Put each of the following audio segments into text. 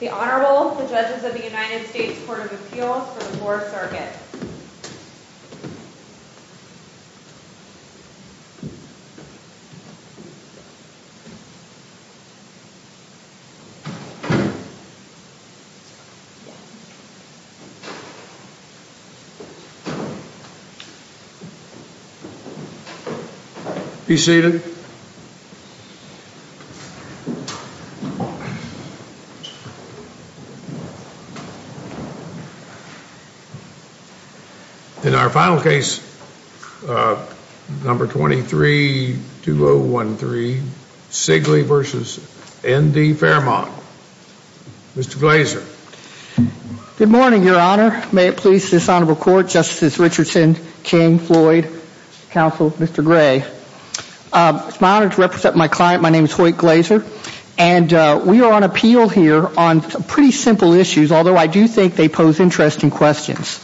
The Honorable, the Judges of the United States Court of Appeals for the 4th Circuit. Please be seated. In our final case, number 23-2013, Sigley v. ND Fairmont, Mr. Glazer. Good morning, Your Honor. May it please this Honorable Court, Justice Richardson, King, Floyd, Counsel, Mr. Gray. It's my honor to represent my client. My name is Hoyt Glazer. And we are on appeal here on some pretty simple issues, although I do think they pose interesting questions.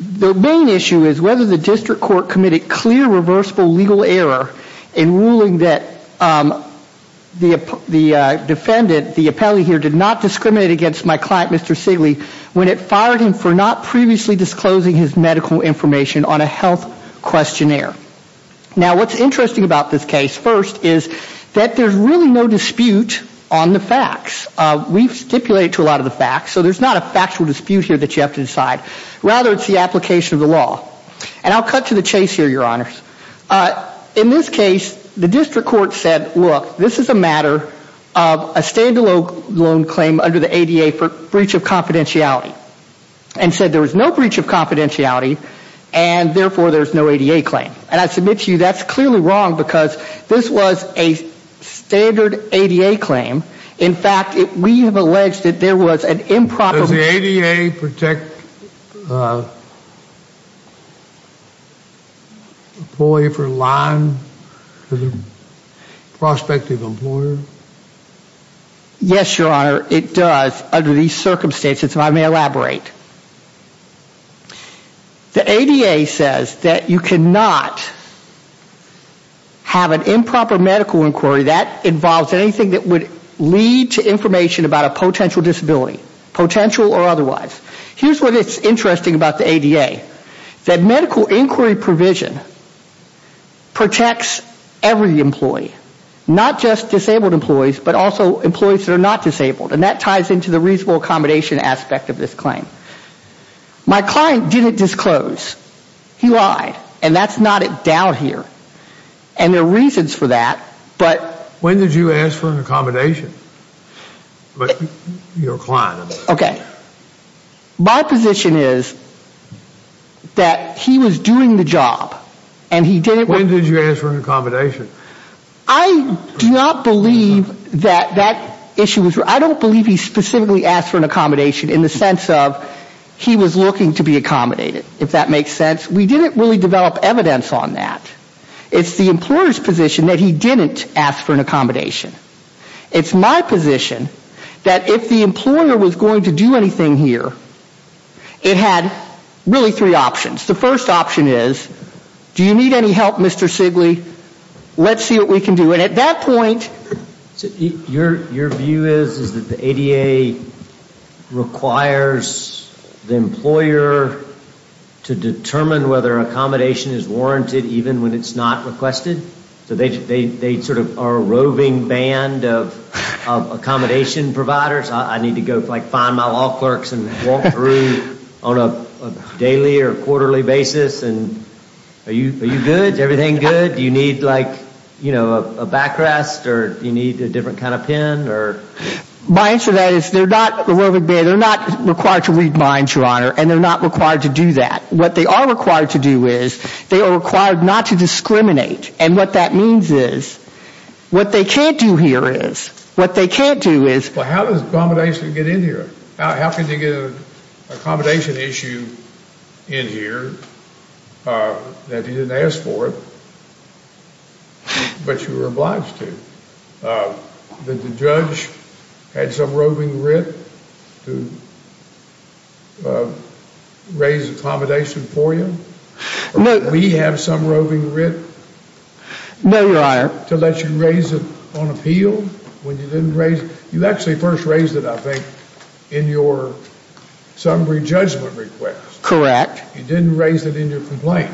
The main issue is whether the district court committed clear, reversible legal error in ruling that the defendant, the appellee here, did not discriminate against my client, Mr. Sigley, when it fired him for not previously disclosing his medical information on a health questionnaire. Now, what's interesting about this case, first, is that there's really no dispute on the facts. We've stipulated to a lot of the facts, so there's not a factual dispute here that you have to decide. Rather, it's the application of the law. And I'll cut to the chase here, Your Honors. In this case, the district court said, look, this is a matter of a stand-alone claim under the ADA for breach of confidentiality. And said there was no breach of confidentiality, and therefore there's no ADA claim. And I submit to you that's clearly wrong, because this was a standard ADA claim. In fact, we have alleged that there was an improper... Does it protect an employee for lying to the prospective employer? Yes, Your Honor, it does under these circumstances, and I may elaborate. The ADA says that you cannot have an improper medical inquiry that involves anything that would lead to information about a potential disability, potential or otherwise. Here's what is interesting about the ADA, that medical inquiry provision protects every employee, not just disabled employees, but also employees that are not disabled. And that ties into the reasonable accommodation aspect of this claim. My client didn't disclose. He lied, and that's not a doubt here. And there are reasons for that, but... When did you ask for an accommodation? Okay. My position is that he was doing the job, and he didn't... When did you ask for an accommodation? I do not believe that that issue was... I don't believe he specifically asked for an accommodation in the sense of he was looking to be accommodated, if that makes sense. We didn't really develop evidence on that. It's the employer's position that he didn't ask for an accommodation. It's my position that if the employer was going to do anything here, it had really three options. The first option is, do you need any help, Mr. Sigley? Let's see what we can do. Your view is that the ADA requires the employer to determine whether accommodation is warranted even when it's not requested? So they sort of are a roving band of accommodation providers? I need to go find my law clerks and walk through on a daily or quarterly basis? Are you good? Is everything good? You said you need a backrest, or you need a different kind of pen? My answer to that is, they're not a roving band. They're not required to read minds, Your Honor, and they're not required to do that. What they are required to do is, they are required not to discriminate. And what that means is, what they can't do here is, what they can't do is... Well, how does accommodation get in here? How can they get an accommodation issue in here if you didn't ask for it, but you were obliged to? Did the judge have some roving writ to raise accommodation for you? Do we have some roving writ to let you raise it on appeal? You actually first raised it, I think, in your summary judgment request. Correct. You didn't raise it in your complaint.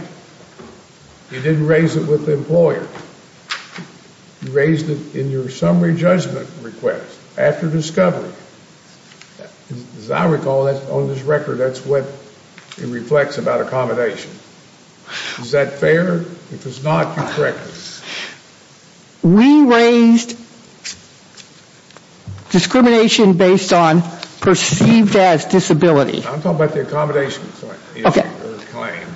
You didn't raise it with the employer. You raised it in your summary judgment request after discovery. As I recall, on this record, that's what it reflects about accommodation. Is that fair? If it's not, correct me. We raised discrimination based on perceived as disability. I'm talking about the accommodation claim.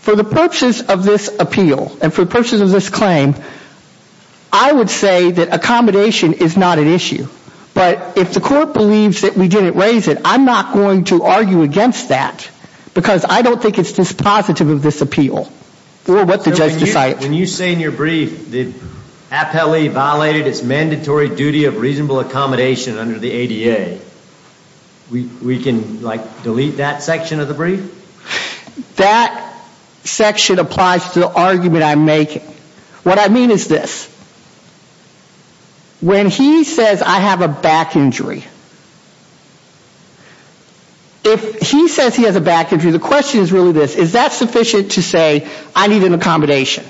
For the purposes of this appeal, and for the purposes of this claim, I would say that accommodation is not an issue. But if the court believes that we didn't raise it, I'm not going to argue against that, because I don't think it's dispositive of this appeal, or what the judge decided. When you say in your brief the appellee violated its mandatory duty of reasonable accommodation under the ADA, we can delete that section of the brief? That section applies to the argument I'm making. What I mean is this. When he says I have a back injury, if he says he has a back injury, the question is really this. Is that sufficient to say I need an accommodation?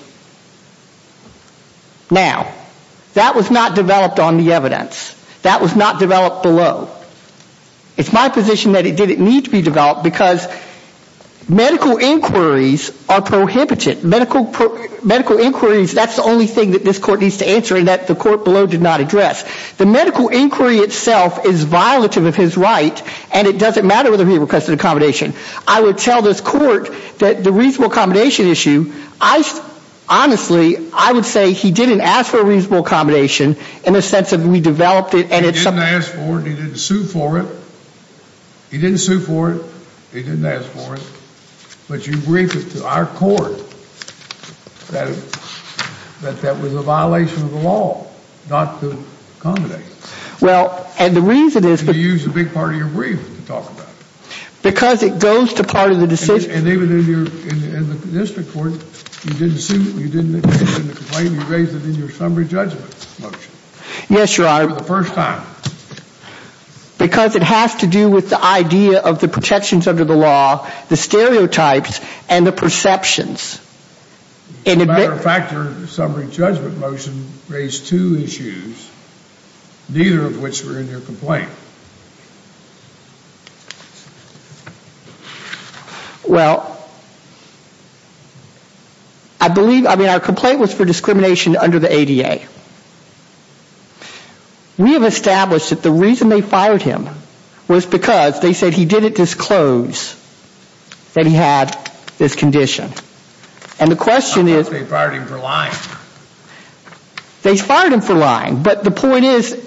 Now, that was not developed on the evidence. That was not developed below. It's my position that it didn't need to be developed, because medical inquiries are prohibited. Medical inquiries, that's the only thing that this court needs to answer and that the court below did not address. The medical inquiry itself is violative of his right, and it doesn't matter whether he requested accommodation. I would tell this court that the reasonable accommodation issue, honestly, I would say he didn't ask for a reasonable accommodation in the sense that we developed it. He didn't ask for it. He didn't sue for it. He didn't sue for it. He didn't ask for it. But you briefed it to our court that that was a violation of the law not to accommodate. Well, and the reason is because You used a big part of your brief to talk about it. Because it goes to part of the decision. And even in the district court, you didn't sue, you didn't complain, you raised it in your summary judgment motion. Yes, Your Honor. For the first time. Because it has to do with the idea of the protections under the law, the stereotypes, and the perceptions. As a matter of fact, your summary judgment motion raised two issues, neither of which were in your complaint. Well, I believe, I mean, our complaint was for discrimination under the ADA. We have established that the reason they fired him was because they said he didn't disclose that he had this condition. And the question is They fired him for lying. They fired him for lying. But the point is,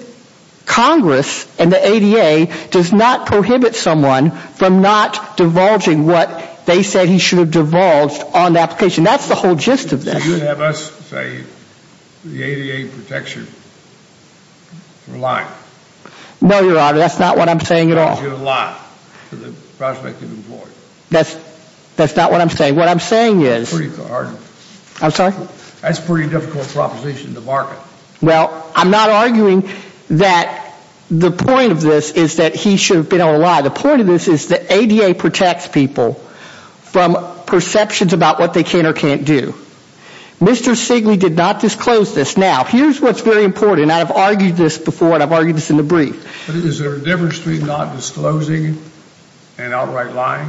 Congress and the ADA does not prohibit someone from not divulging what they said he should have divulged on the application. That's the whole gist of this. So you're going to have us say the ADA protects you for lying. No, Your Honor, that's not what I'm saying at all. Because you're lying to the prospective employee. That's not what I'm saying. What I'm saying is That's pretty hard. I'm sorry? That's a pretty difficult proposition to market. Well, I'm not arguing that the point of this is that he should have been able to lie. The point of this is that ADA protects people from perceptions about what they can or can't do. Mr. Sigley did not disclose this. Now, here's what's very important. I've argued this before, and I've argued this in the brief. Is there a difference between not disclosing and outright lying?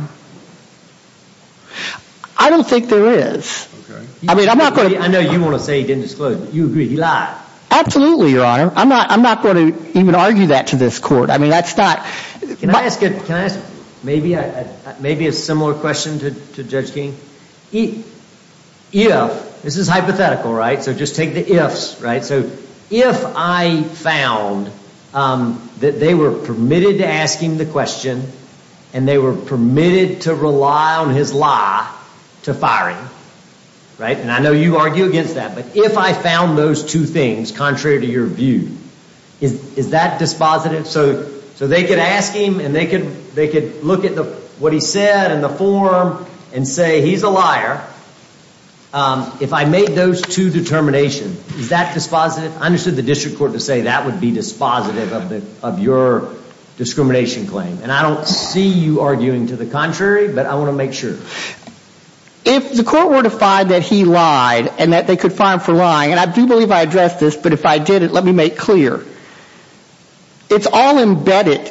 I don't think there is. I mean, I'm not going to I know you want to say he didn't disclose it. But you agree he lied. Absolutely, Your Honor. I'm not going to even argue that to this court. I mean, that's not Can I ask maybe a similar question to Judge King? If, this is hypothetical, right? So just take the ifs, right? So if I found that they were permitted to ask him the question, and they were permitted to rely on his lie to fire him. Right? And I know you argue against that. But if I found those two things contrary to your view, is that dispositive? So they could ask him, and they could look at what he said in the forum and say he's a liar. If I made those two determinations, is that dispositive? I understood the district court to say that would be dispositive of your discrimination claim. And I don't see you arguing to the contrary, but I want to make sure. If the court were to find that he lied, and that they could fine him for lying, and I do believe I addressed this, but if I didn't, let me make clear. It's all embedded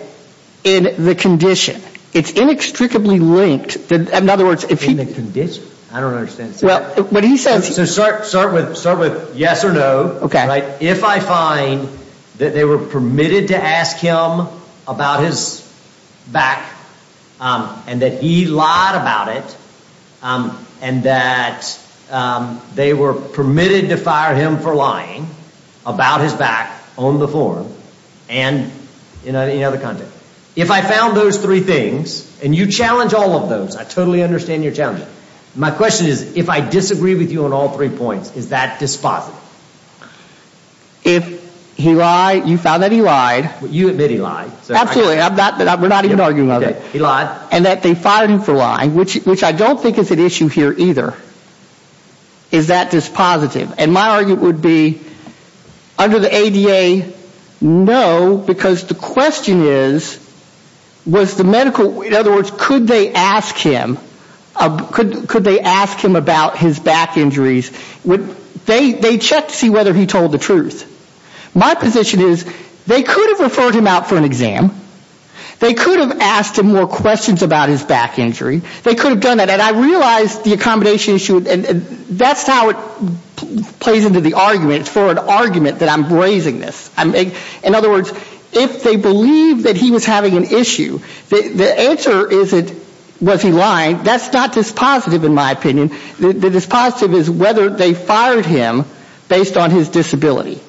in the condition. It's inextricably linked. In other words, if he In the condition? I don't understand. Well, what he says So start with yes or no. Okay. If I find that they were permitted to ask him about his back, and that he lied about it, and that they were permitted to fire him for lying about his back on the forum, and in any other context. If I found those three things, and you challenge all of those. I totally understand you're challenging. My question is, if I disagree with you on all three points, is that dispositive? If he lied, you found that he lied. You admit he lied. Absolutely. We're not even arguing about that. He lied. And that they fired him for lying, which I don't think is an issue here either. Is that dispositive? And my argument would be, under the ADA, no, because the question is, was the medical In other words, could they ask him about his back injuries? They checked to see whether he told the truth. My position is, they could have referred him out for an exam. They could have asked him more questions about his back injury. They could have done that. And I realize the accommodation issue, and that's how it plays into the argument. It's for an argument that I'm raising this. In other words, if they believe that he was having an issue, the answer is, was he lying? That's not dispositive, in my opinion. The dispositive is whether they fired him based on his disability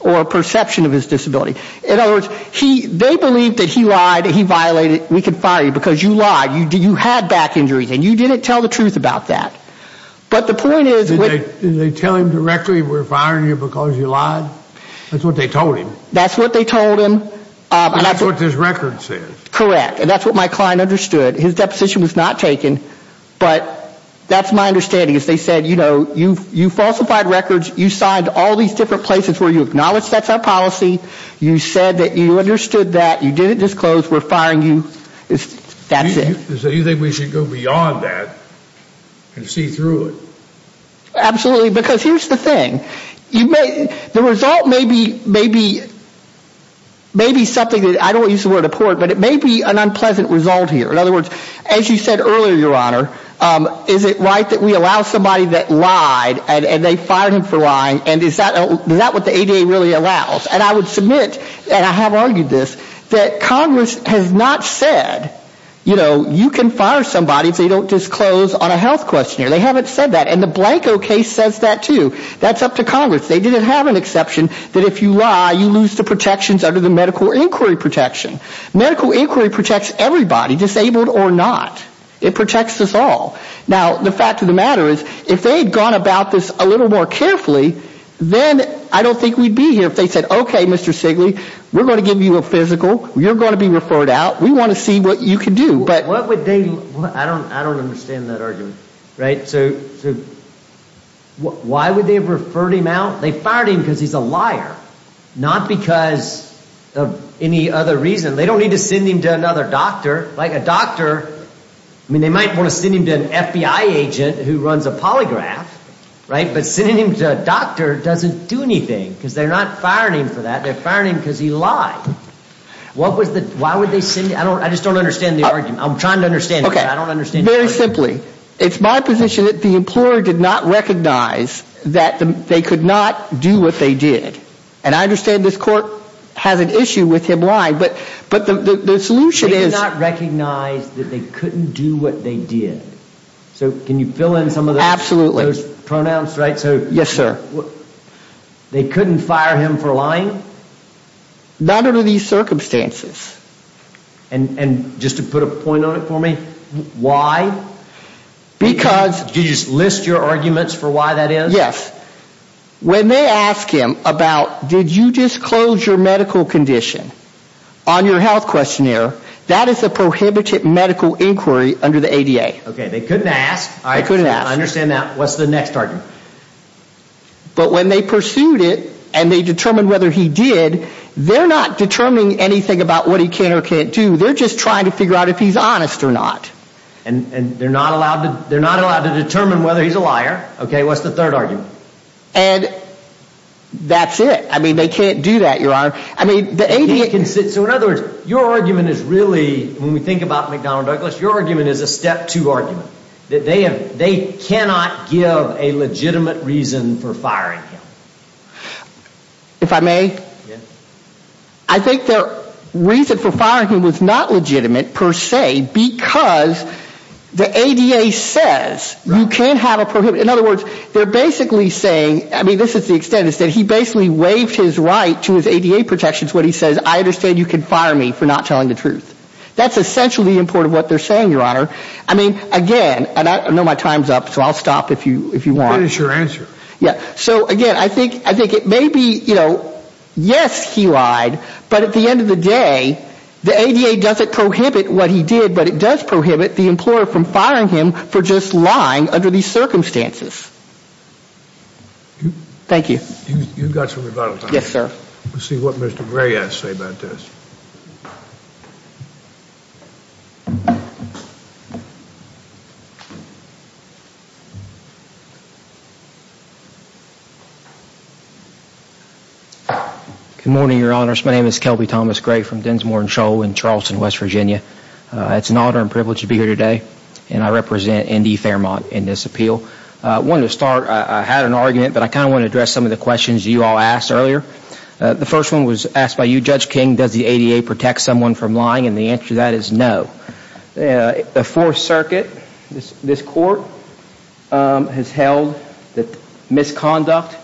or perception of his disability. In other words, they believe that he lied, he violated, we can fire you because you lied. You had back injuries, and you didn't tell the truth about that. But the point is, Did they tell him directly, we're firing you because you lied? That's what they told him. That's what they told him. And that's what this record says. Correct, and that's what my client understood. His deposition was not taken, but that's my understanding. They said, you falsified records, you signed all these different places where you acknowledge that's our policy. You said that you understood that, you didn't disclose, we're firing you, that's it. So you think we should go beyond that and see through it? Absolutely, because here's the thing. The result may be something that I don't use the word abort, but it may be an unpleasant result here. In other words, as you said earlier, Your Honor, is it right that we allow somebody that lied, and they fired him for lying, and is that what the ADA really allows? And I would submit, and I have argued this, that Congress has not said, you know, you can fire somebody if they don't disclose on a health questionnaire. They haven't said that. And the Blanco case says that, too. That's up to Congress. They didn't have an exception that if you lie, you lose the protections under the medical inquiry protection. Medical inquiry protects everybody, disabled or not. It protects us all. Now, the fact of the matter is, if they had gone about this a little more carefully, then I don't think we'd be here if they said, okay, Mr. Sigley, we're going to give you a physical, you're going to be referred out, we want to see what you can do. What would they, I don't understand that argument, right? So why would they have referred him out? They fired him because he's a liar, not because of any other reason. They don't need to send him to another doctor. Like a doctor, I mean, they might want to send him to an FBI agent who runs a polygraph, right? But sending him to a doctor doesn't do anything because they're not firing him for that. They're firing him because he lied. What was the, why would they send, I just don't understand the argument. I'm trying to understand the argument. Very simply, it's my position that the employer did not recognize that they could not do what they did. And I understand this court has an issue with him lying, but the solution is. They did not recognize that they couldn't do what they did. So can you fill in some of those. Absolutely. Pronouns, right? Yes, sir. They couldn't fire him for lying? Not under these circumstances. And just to put a point on it for me, why? Because. Did you list your arguments for why that is? Yes. When they ask him about, did you disclose your medical condition on your health questionnaire, that is a prohibited medical inquiry under the ADA. Okay, they couldn't ask. They couldn't ask. I understand that. What's the next argument? But when they pursued it and they determined whether he did, they're not determining anything about what he can or can't do. They're just trying to figure out if he's honest or not. And they're not allowed to determine whether he's a liar. Okay, what's the third argument? And that's it. I mean, they can't do that, Your Honor. I mean, the ADA. So in other words, your argument is really, when we think about McDonnell Douglas, your argument is a step two argument. That they cannot give a legitimate reason for firing him. If I may? Yes. I think their reason for firing him was not legitimate, per se, because the ADA says you can't have a prohibited. In other words, they're basically saying, I mean, this is the extent, is that he basically waived his right to his ADA protections when he says, I understand you can fire me for not telling the truth. That's essentially important what they're saying, Your Honor. I mean, again, and I know my time's up, so I'll stop if you want. Finish your answer. Yeah. So, again, I think it may be, you know, yes, he lied. But at the end of the day, the ADA doesn't prohibit what he did. But it does prohibit the employer from firing him for just lying under these circumstances. Thank you. You've got some rebuttal time. Yes, sir. Let's see what Mr. Gray has to say about this. Good morning, Your Honors. My name is Kelby Thomas Gray from Dinsmore & Scholl in Charleston, West Virginia. It's an honor and privilege to be here today, and I represent N.D. Fairmont in this appeal. I had an argument, but I kind of want to address some of the questions you all asked earlier. The first one was asked by you, Judge King, does the ADA protect someone from lying? And the answer to that is no. The Fourth Circuit, this court, has held that misconduct,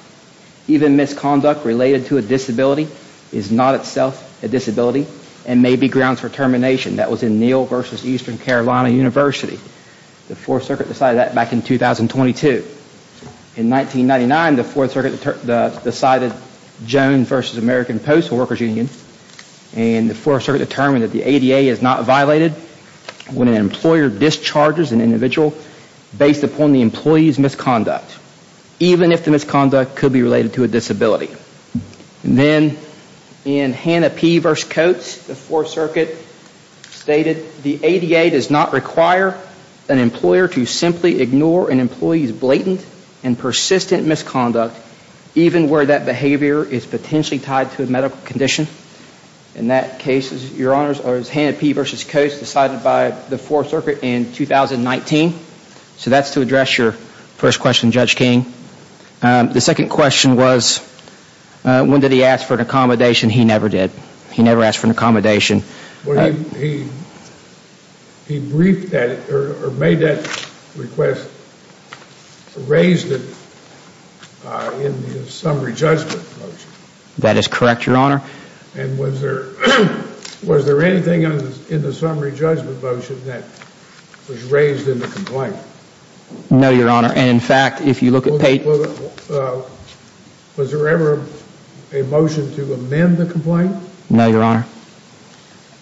even misconduct related to a disability, is not itself a disability and may be grounds for termination. That was in Neal v. Eastern Carolina University. The Fourth Circuit decided that back in 2022. In 1999, the Fourth Circuit decided, Jones v. American Post, a workers' union, and the Fourth Circuit determined that the ADA is not violated when an employer discharges an individual based upon the employee's misconduct, even if the misconduct could be related to a disability. Then in Hannah P. v. Coates, the Fourth Circuit stated, the ADA does not require an employer to simply ignore an employee's blatant and persistent misconduct, even where that behavior is potentially tied to a medical condition. In that case, Your Honors, it was Hannah P. v. Coates decided by the Fourth Circuit in 2019. So that's to address your first question, Judge King. The second question was, when did he ask for an accommodation? He never did. He never asked for an accommodation. He briefed that, or made that request, raised it in the summary judgment motion. That is correct, Your Honor. And was there anything in the summary judgment motion that was raised in the complaint? No, Your Honor. Was there ever a motion to amend the complaint? No, Your Honor.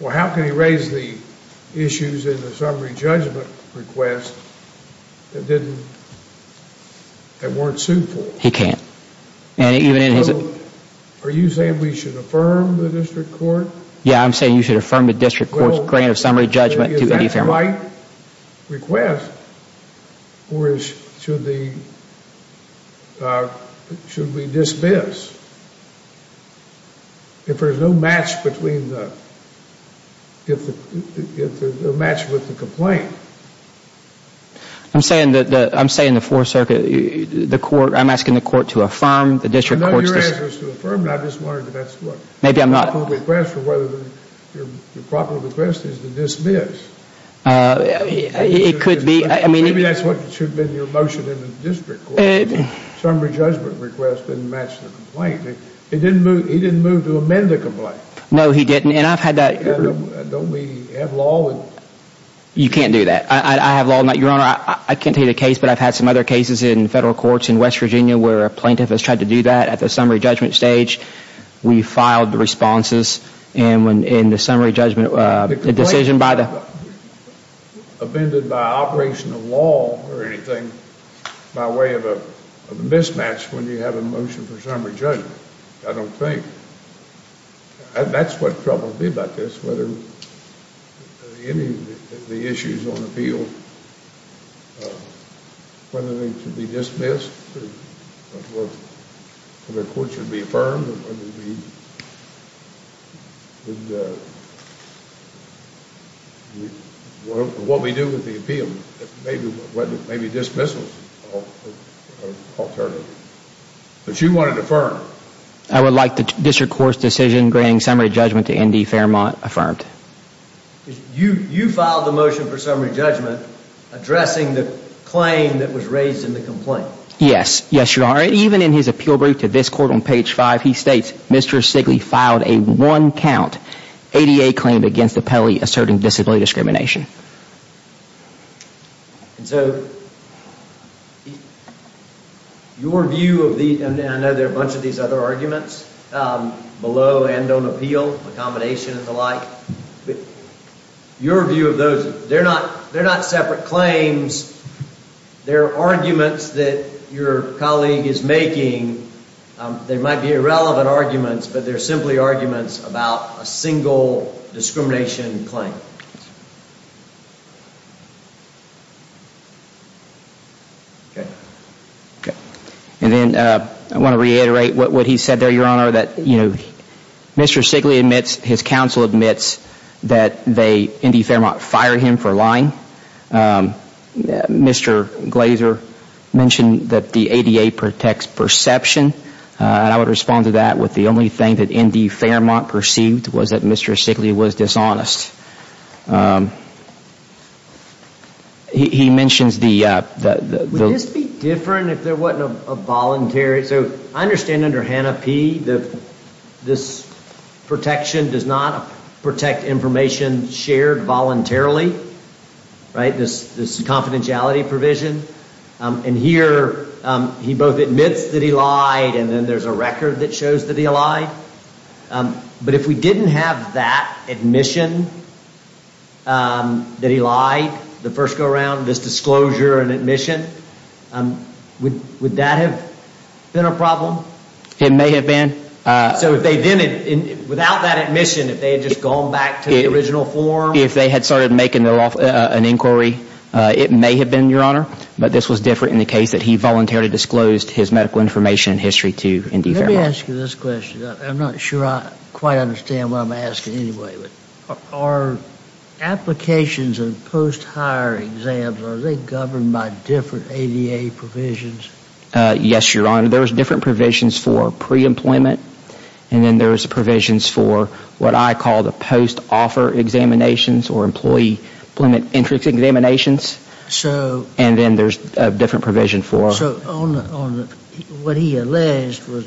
Well, how can he raise the issues in the summary judgment request that weren't sued for? He can't. So are you saying we should affirm the district court? Yeah, I'm saying you should affirm the district court's grant of summary judgment. Is that the right request, or should we dismiss if there's no match with the complaint? I'm saying in the Fourth Circuit, I'm asking the court to affirm the district court's decision. I know your answer is to affirm it. I just wondered if that's the right request. Your proper request is to dismiss. It could be. Maybe that's what should have been your motion in the district court. Summary judgment request didn't match the complaint. He didn't move to amend the complaint. No, he didn't. Don't we have law? You can't do that. I have law. Your Honor, I can't tell you the case, but I've had some other cases in federal courts in West Virginia where a plaintiff has tried to do that at the summary judgment stage. We filed the responses, and the summary judgment decision by the... The complaint was not amended by operational law or anything by way of a mismatch when you have a motion for summary judgment, I don't think. That's what troubles me about this, whether any of the issues on the field, whether they should be dismissed, whether the court should be affirmed, what we do with the appeal, maybe dismissal alternative. But you wanted to affirm. I would like the district court's decision granting summary judgment to Andy Fairmont affirmed. You filed the motion for summary judgment addressing the claim that was raised in the complaint. Yes. Yes, Your Honor. Even in his appeal brief to this court on page 5, he states, Mr. Sigley filed a one-count ADA claim against the penalty asserting disability discrimination. And so your view of the... I know there are a bunch of these other arguments below and on appeal, accommodation and the like. Your view of those, they're not separate claims. They're arguments that your colleague is making. They might be irrelevant arguments, but they're simply arguments about a single discrimination claim. Okay. And then I want to reiterate what he said there, Your Honor. Mr. Sigley admits, his counsel admits that Andy Fairmont fired him for lying. Mr. Glazer mentioned that the ADA protects perception. And I would respond to that with the only thing that Andy Fairmont perceived was that Mr. Sigley was dishonest. He mentions the... Would this be different if there wasn't a voluntary... So I understand under HANAPI that this protection does not protect information shared voluntarily, right? This confidentiality provision. And here he both admits that he lied and then there's a record that shows that he lied. But if we didn't have that admission that he lied, the first go-around, this disclosure and admission, would that have been a problem? It may have been. So without that admission, if they had just gone back to the original form? If they had started making an inquiry, it may have been, Your Honor. But this was different in the case that he voluntarily disclosed his medical information and history to Andy Fairmont. Let me ask you this question. I'm not sure I quite understand what I'm asking anyway. Are applications of post-hire exams, are they governed by different ADA provisions? Yes, Your Honor. There's different provisions for pre-employment. And then there's provisions for what I call the post-offer examinations or employee employment entry examinations. So... And then there's a different provision for... So what he alleged was,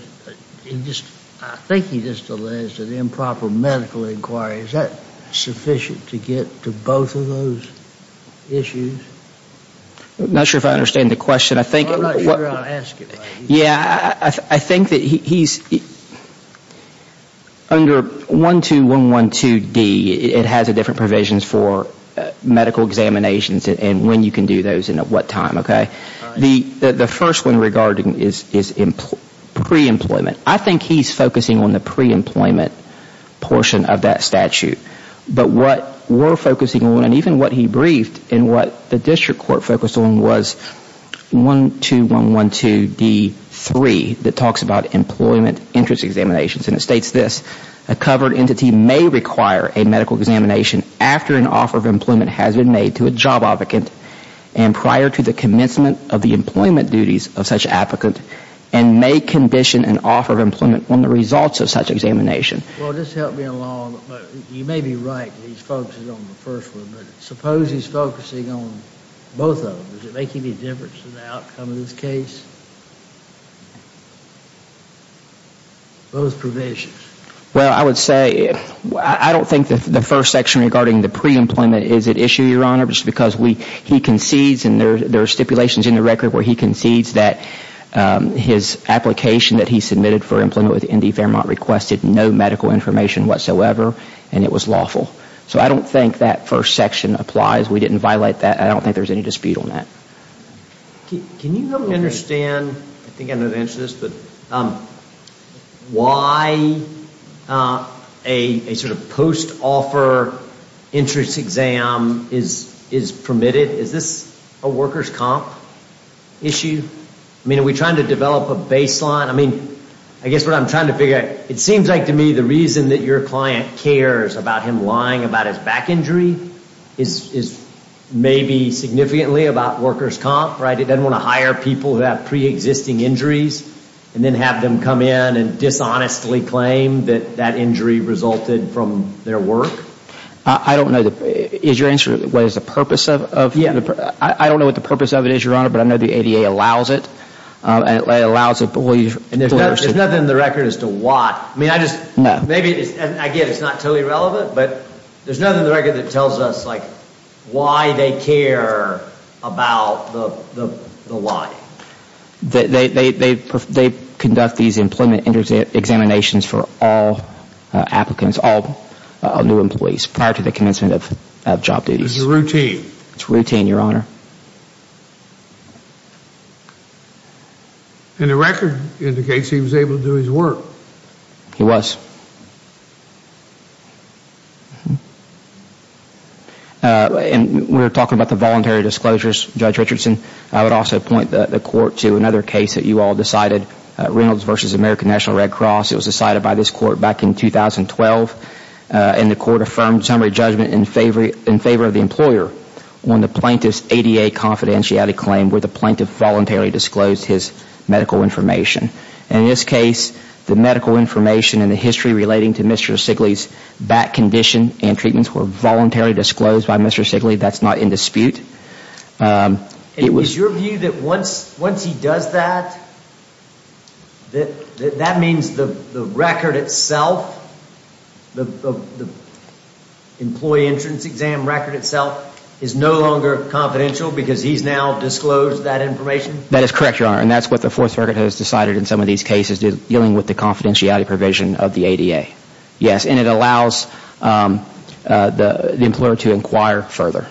I think he just alleged an improper medical inquiry. Is that sufficient to get to both of those issues? I'm not sure if I understand the question. I'm not sure how to ask it. Yeah, I think that he's... Under 12112D, it has different provisions for medical examinations and when you can do those and at what time, okay? The first one regarding is pre-employment. I think he's focusing on the pre-employment portion of that statute. But what we're focusing on and even what he briefed and what the district court focused on was 12112D3 that talks about employment interest examinations. And it states this. A covered entity may require a medical examination after an offer of employment has been made to a job advocate. And prior to the commencement of the employment duties of such an applicant and may condition an offer of employment on the results of such examination. Well, just help me along. You may be right that he's focusing on the first one. But suppose he's focusing on both of them. Does it make any difference to the outcome of this case? Both provisions. Well, I would say... I don't think the first section regarding the pre-employment is at issue, Your Honor. Just because he concedes and there are stipulations in the record where he concedes that his application that he submitted for employment with Indy Fairmont requested no medical information whatsoever. And it was lawful. So I don't think that first section applies. We didn't violate that. I don't think there's any dispute on that. Can you help me understand, I think I know the answer to this, but why a sort of post-offer interest exam is permitted? Is this a workers' comp issue? I mean, are we trying to develop a baseline? I mean, I guess what I'm trying to figure out, it seems like to me the reason that your client cares about him lying about his back injury is maybe significantly about workers' comp, right? He doesn't want to hire people who have pre-existing injuries and then have them come in and dishonestly claim that that injury resulted from their work? I don't know. Is your answer, what is the purpose of... Yeah. I don't know what the purpose of it is, Your Honor, but I know the ADA allows it. And it allows employees... There's nothing in the record as to what. I mean, I just... No. Again, it's not totally relevant, but there's nothing in the record that tells us why they care about the lie. They conduct these employment examinations for all applicants, all new employees prior to the commencement of job duties. It's routine. It's routine, Your Honor. And the record indicates he was able to do his work. He was. And we were talking about the voluntary disclosures, Judge Richardson. I would also point the Court to another case that you all decided, Reynolds v. American National Red Cross. It was decided by this Court back in 2012, and the Court affirmed summary judgment in favor of the employer on the plaintiff's ADA confidentiality claim where the plaintiff voluntarily disclosed his medical information. And in this case, the medical information and the history relating to Mr. Sigley's back condition and treatments were voluntarily disclosed by Mr. Sigley. That's not in dispute. Is your view that once he does that, that means the record itself, the employee entrance exam record itself is no longer confidential because he's now disclosed that information? That is correct, Your Honor. And that's what the Fourth Circuit has decided in some of these cases dealing with the confidentiality provision of the ADA. Yes. And it allows the employer to inquire further.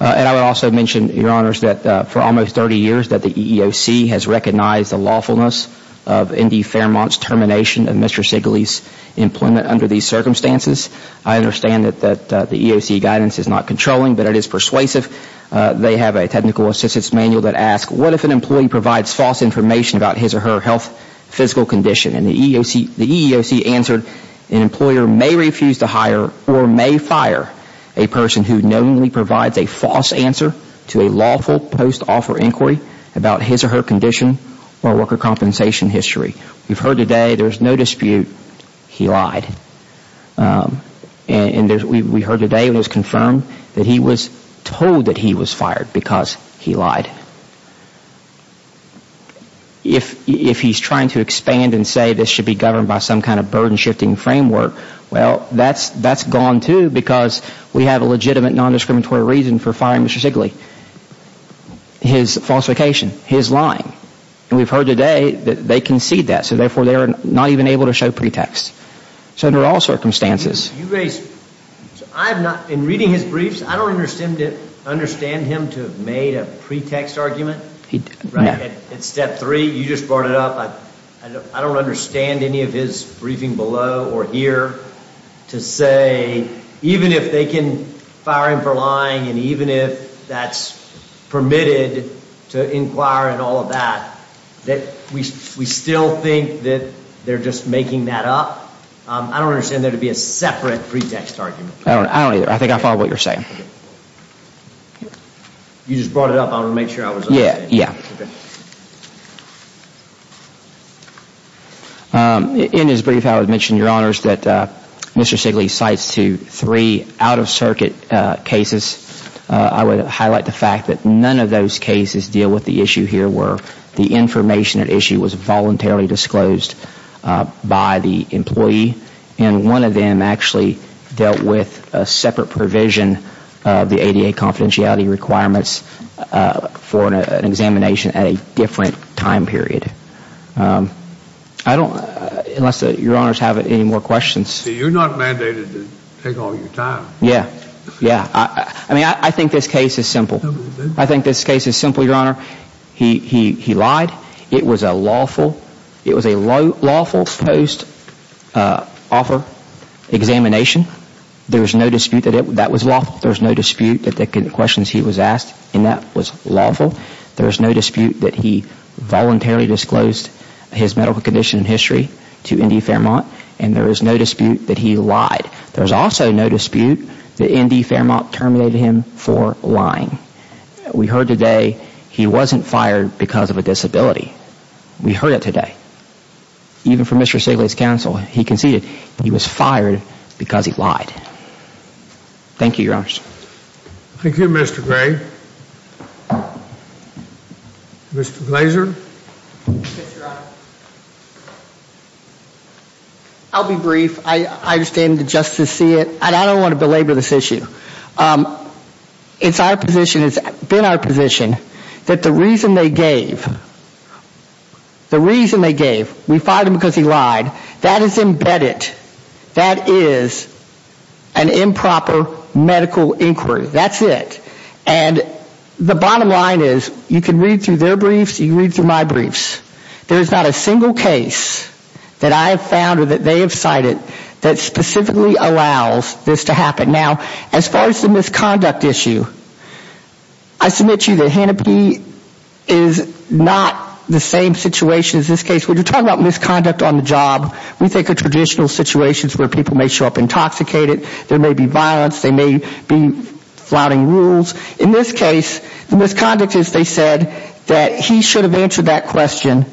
And I would also mention, Your Honors, that for almost 30 years that the EEOC has recognized the lawfulness of Indy Fairmont's termination of Mr. Sigley's employment under these circumstances. I understand that the EEOC guidance is not controlling, but it is persuasive. They have a technical assistance manual that asks, what if an employee provides false information about his or her health, physical condition? And the EEOC answered, an employer may refuse to hire or may fire a person who knowingly provides a false answer to a lawful post-offer inquiry about his or her condition or worker compensation history. We've heard today there's no dispute he lied. And we heard today it was confirmed that he was told that he was fired because he lied. If he's trying to expand and say this should be governed by some kind of burden-shifting framework, well, that's gone too because we have a legitimate non-discriminatory reason for firing Mr. Sigley. His falsification, his lying. And we've heard today that they concede that, so therefore they are not even able to show pretext. So under all circumstances. In reading his briefs, I don't understand him to have made a pretext argument. At step three, you just brought it up. I don't understand any of his briefing below or here to say, even if they can fire him for lying and even if that's permitted to inquire and all of that, that we still think that they're just making that up. I don't understand there to be a separate pretext argument. I don't either. I think I follow what you're saying. You just brought it up. I want to make sure I was okay. Yeah. In his brief, I would mention, Your Honors, that Mr. Sigley cites to three out-of-circuit cases. I would highlight the fact that none of those cases deal with the issue here where the information at issue was voluntarily disclosed by the employee. And one of them actually dealt with a separate provision of the ADA confidentiality requirements for an examination at a different time period. I don't, unless Your Honors have any more questions. See, you're not mandated to take all your time. Yeah. Yeah. I mean, I think this case is simple. I think this case is simple, Your Honor. He lied. It was a lawful post-offer examination. There was no dispute that that was lawful. There was no dispute that the questions he was asked in that was lawful. There was no dispute that he voluntarily disclosed his medical condition and history to Indy Fairmont. And there was no dispute that he lied. There was also no dispute that Indy Fairmont terminated him for lying. We heard today he wasn't fired because of a disability. We heard it today. Even from Mr. Sigley's counsel, he conceded he was fired because he lied. Thank you, Your Honors. Thank you, Mr. Gray. Mr. Glazer. Yes, Your Honor. I'll be brief. I understand the justice see it. And I don't want to belabor this issue. It's our position, it's been our position, that the reason they gave, the reason they gave, we fired him because he lied, that is embedded. That is an improper medical inquiry. That's it. And the bottom line is, you can read through their briefs, you can read through my briefs. There is not a single case that I have found or that they have cited that specifically allows this to happen. Now, as far as the misconduct issue, I submit to you that Hennepin is not the same situation as this case. When you talk about misconduct on the job, we think of traditional situations where people may show up intoxicated, there may be violence, there may be flouting rules. In this case, the misconduct is they said that he should have answered that question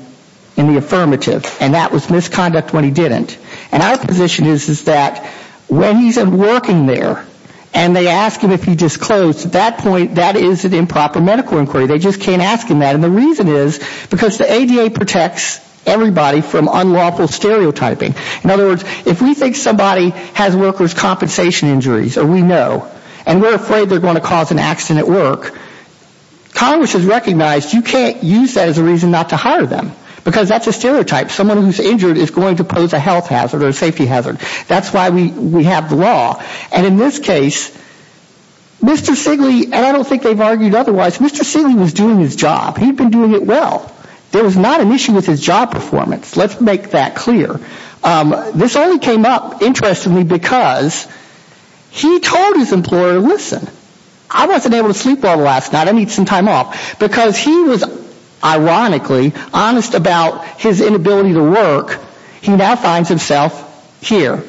in the affirmative, and that was misconduct when he didn't. And our position is that when he's working there and they ask him if he disclosed, at that point that is an improper medical inquiry. They just can't ask him that. And the reason is because the ADA protects everybody from unlawful stereotyping. In other words, if we think somebody has workers' compensation injuries, or we know, and we're afraid they're going to cause an accident at work, Congress has recognized you can't use that as a reason not to hire them. Because that's a stereotype. Someone who's injured is going to pose a health hazard or a safety hazard. That's why we have the law. And in this case, Mr. Sigley, and I don't think they've argued otherwise, Mr. Sigley was doing his job. He'd been doing it well. There was not an issue with his job performance. Let's make that clear. This only came up, interestingly, because he told his employer, listen, I wasn't able to sleep well last night. I need some time off. Because he was, ironically, honest about his inability to work, he now finds himself here.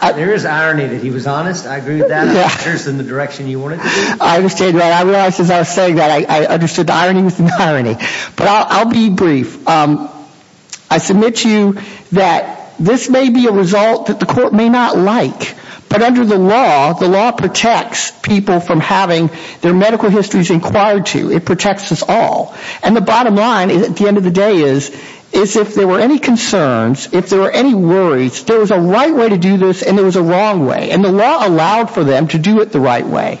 There is irony that he was honest. I agree with that. It occurs in the direction you want it to be. I understand that. I realized as I was saying that I understood the irony within irony. But I'll be brief. I submit to you that this may be a result that the court may not like. But under the law, the law protects people from having their medical histories inquired to. It protects us all. And the bottom line, at the end of the day, is if there were any concerns, if there were any worries, there was a right way to do this and there was a wrong way. And the law allowed for them to do it the right way.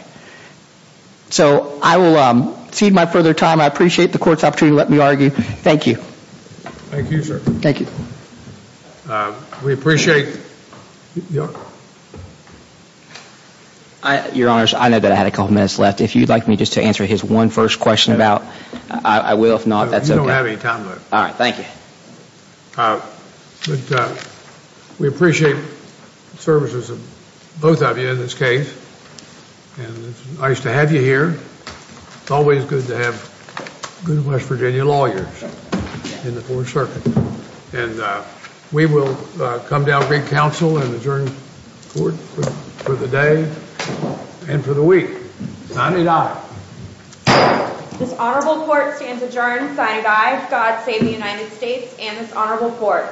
So I will cede my further time. I appreciate the court's opportunity to let me argue. Thank you. Thank you, sir. Thank you. We appreciate you. Your Honors, I know that I had a couple minutes left. If you'd like me just to answer his one first question about, I will. If not, that's okay. You don't have any time left. All right. Thank you. We appreciate the services of both of you in this case. It's nice to have you here. It's always good to have good West Virginia lawyers in the court circuit. And we will come down, bring counsel and adjourn the court for the day and for the week. Signed, aye. This honorable court stands adjourned. Signed, aye. God save the United States and this honorable court.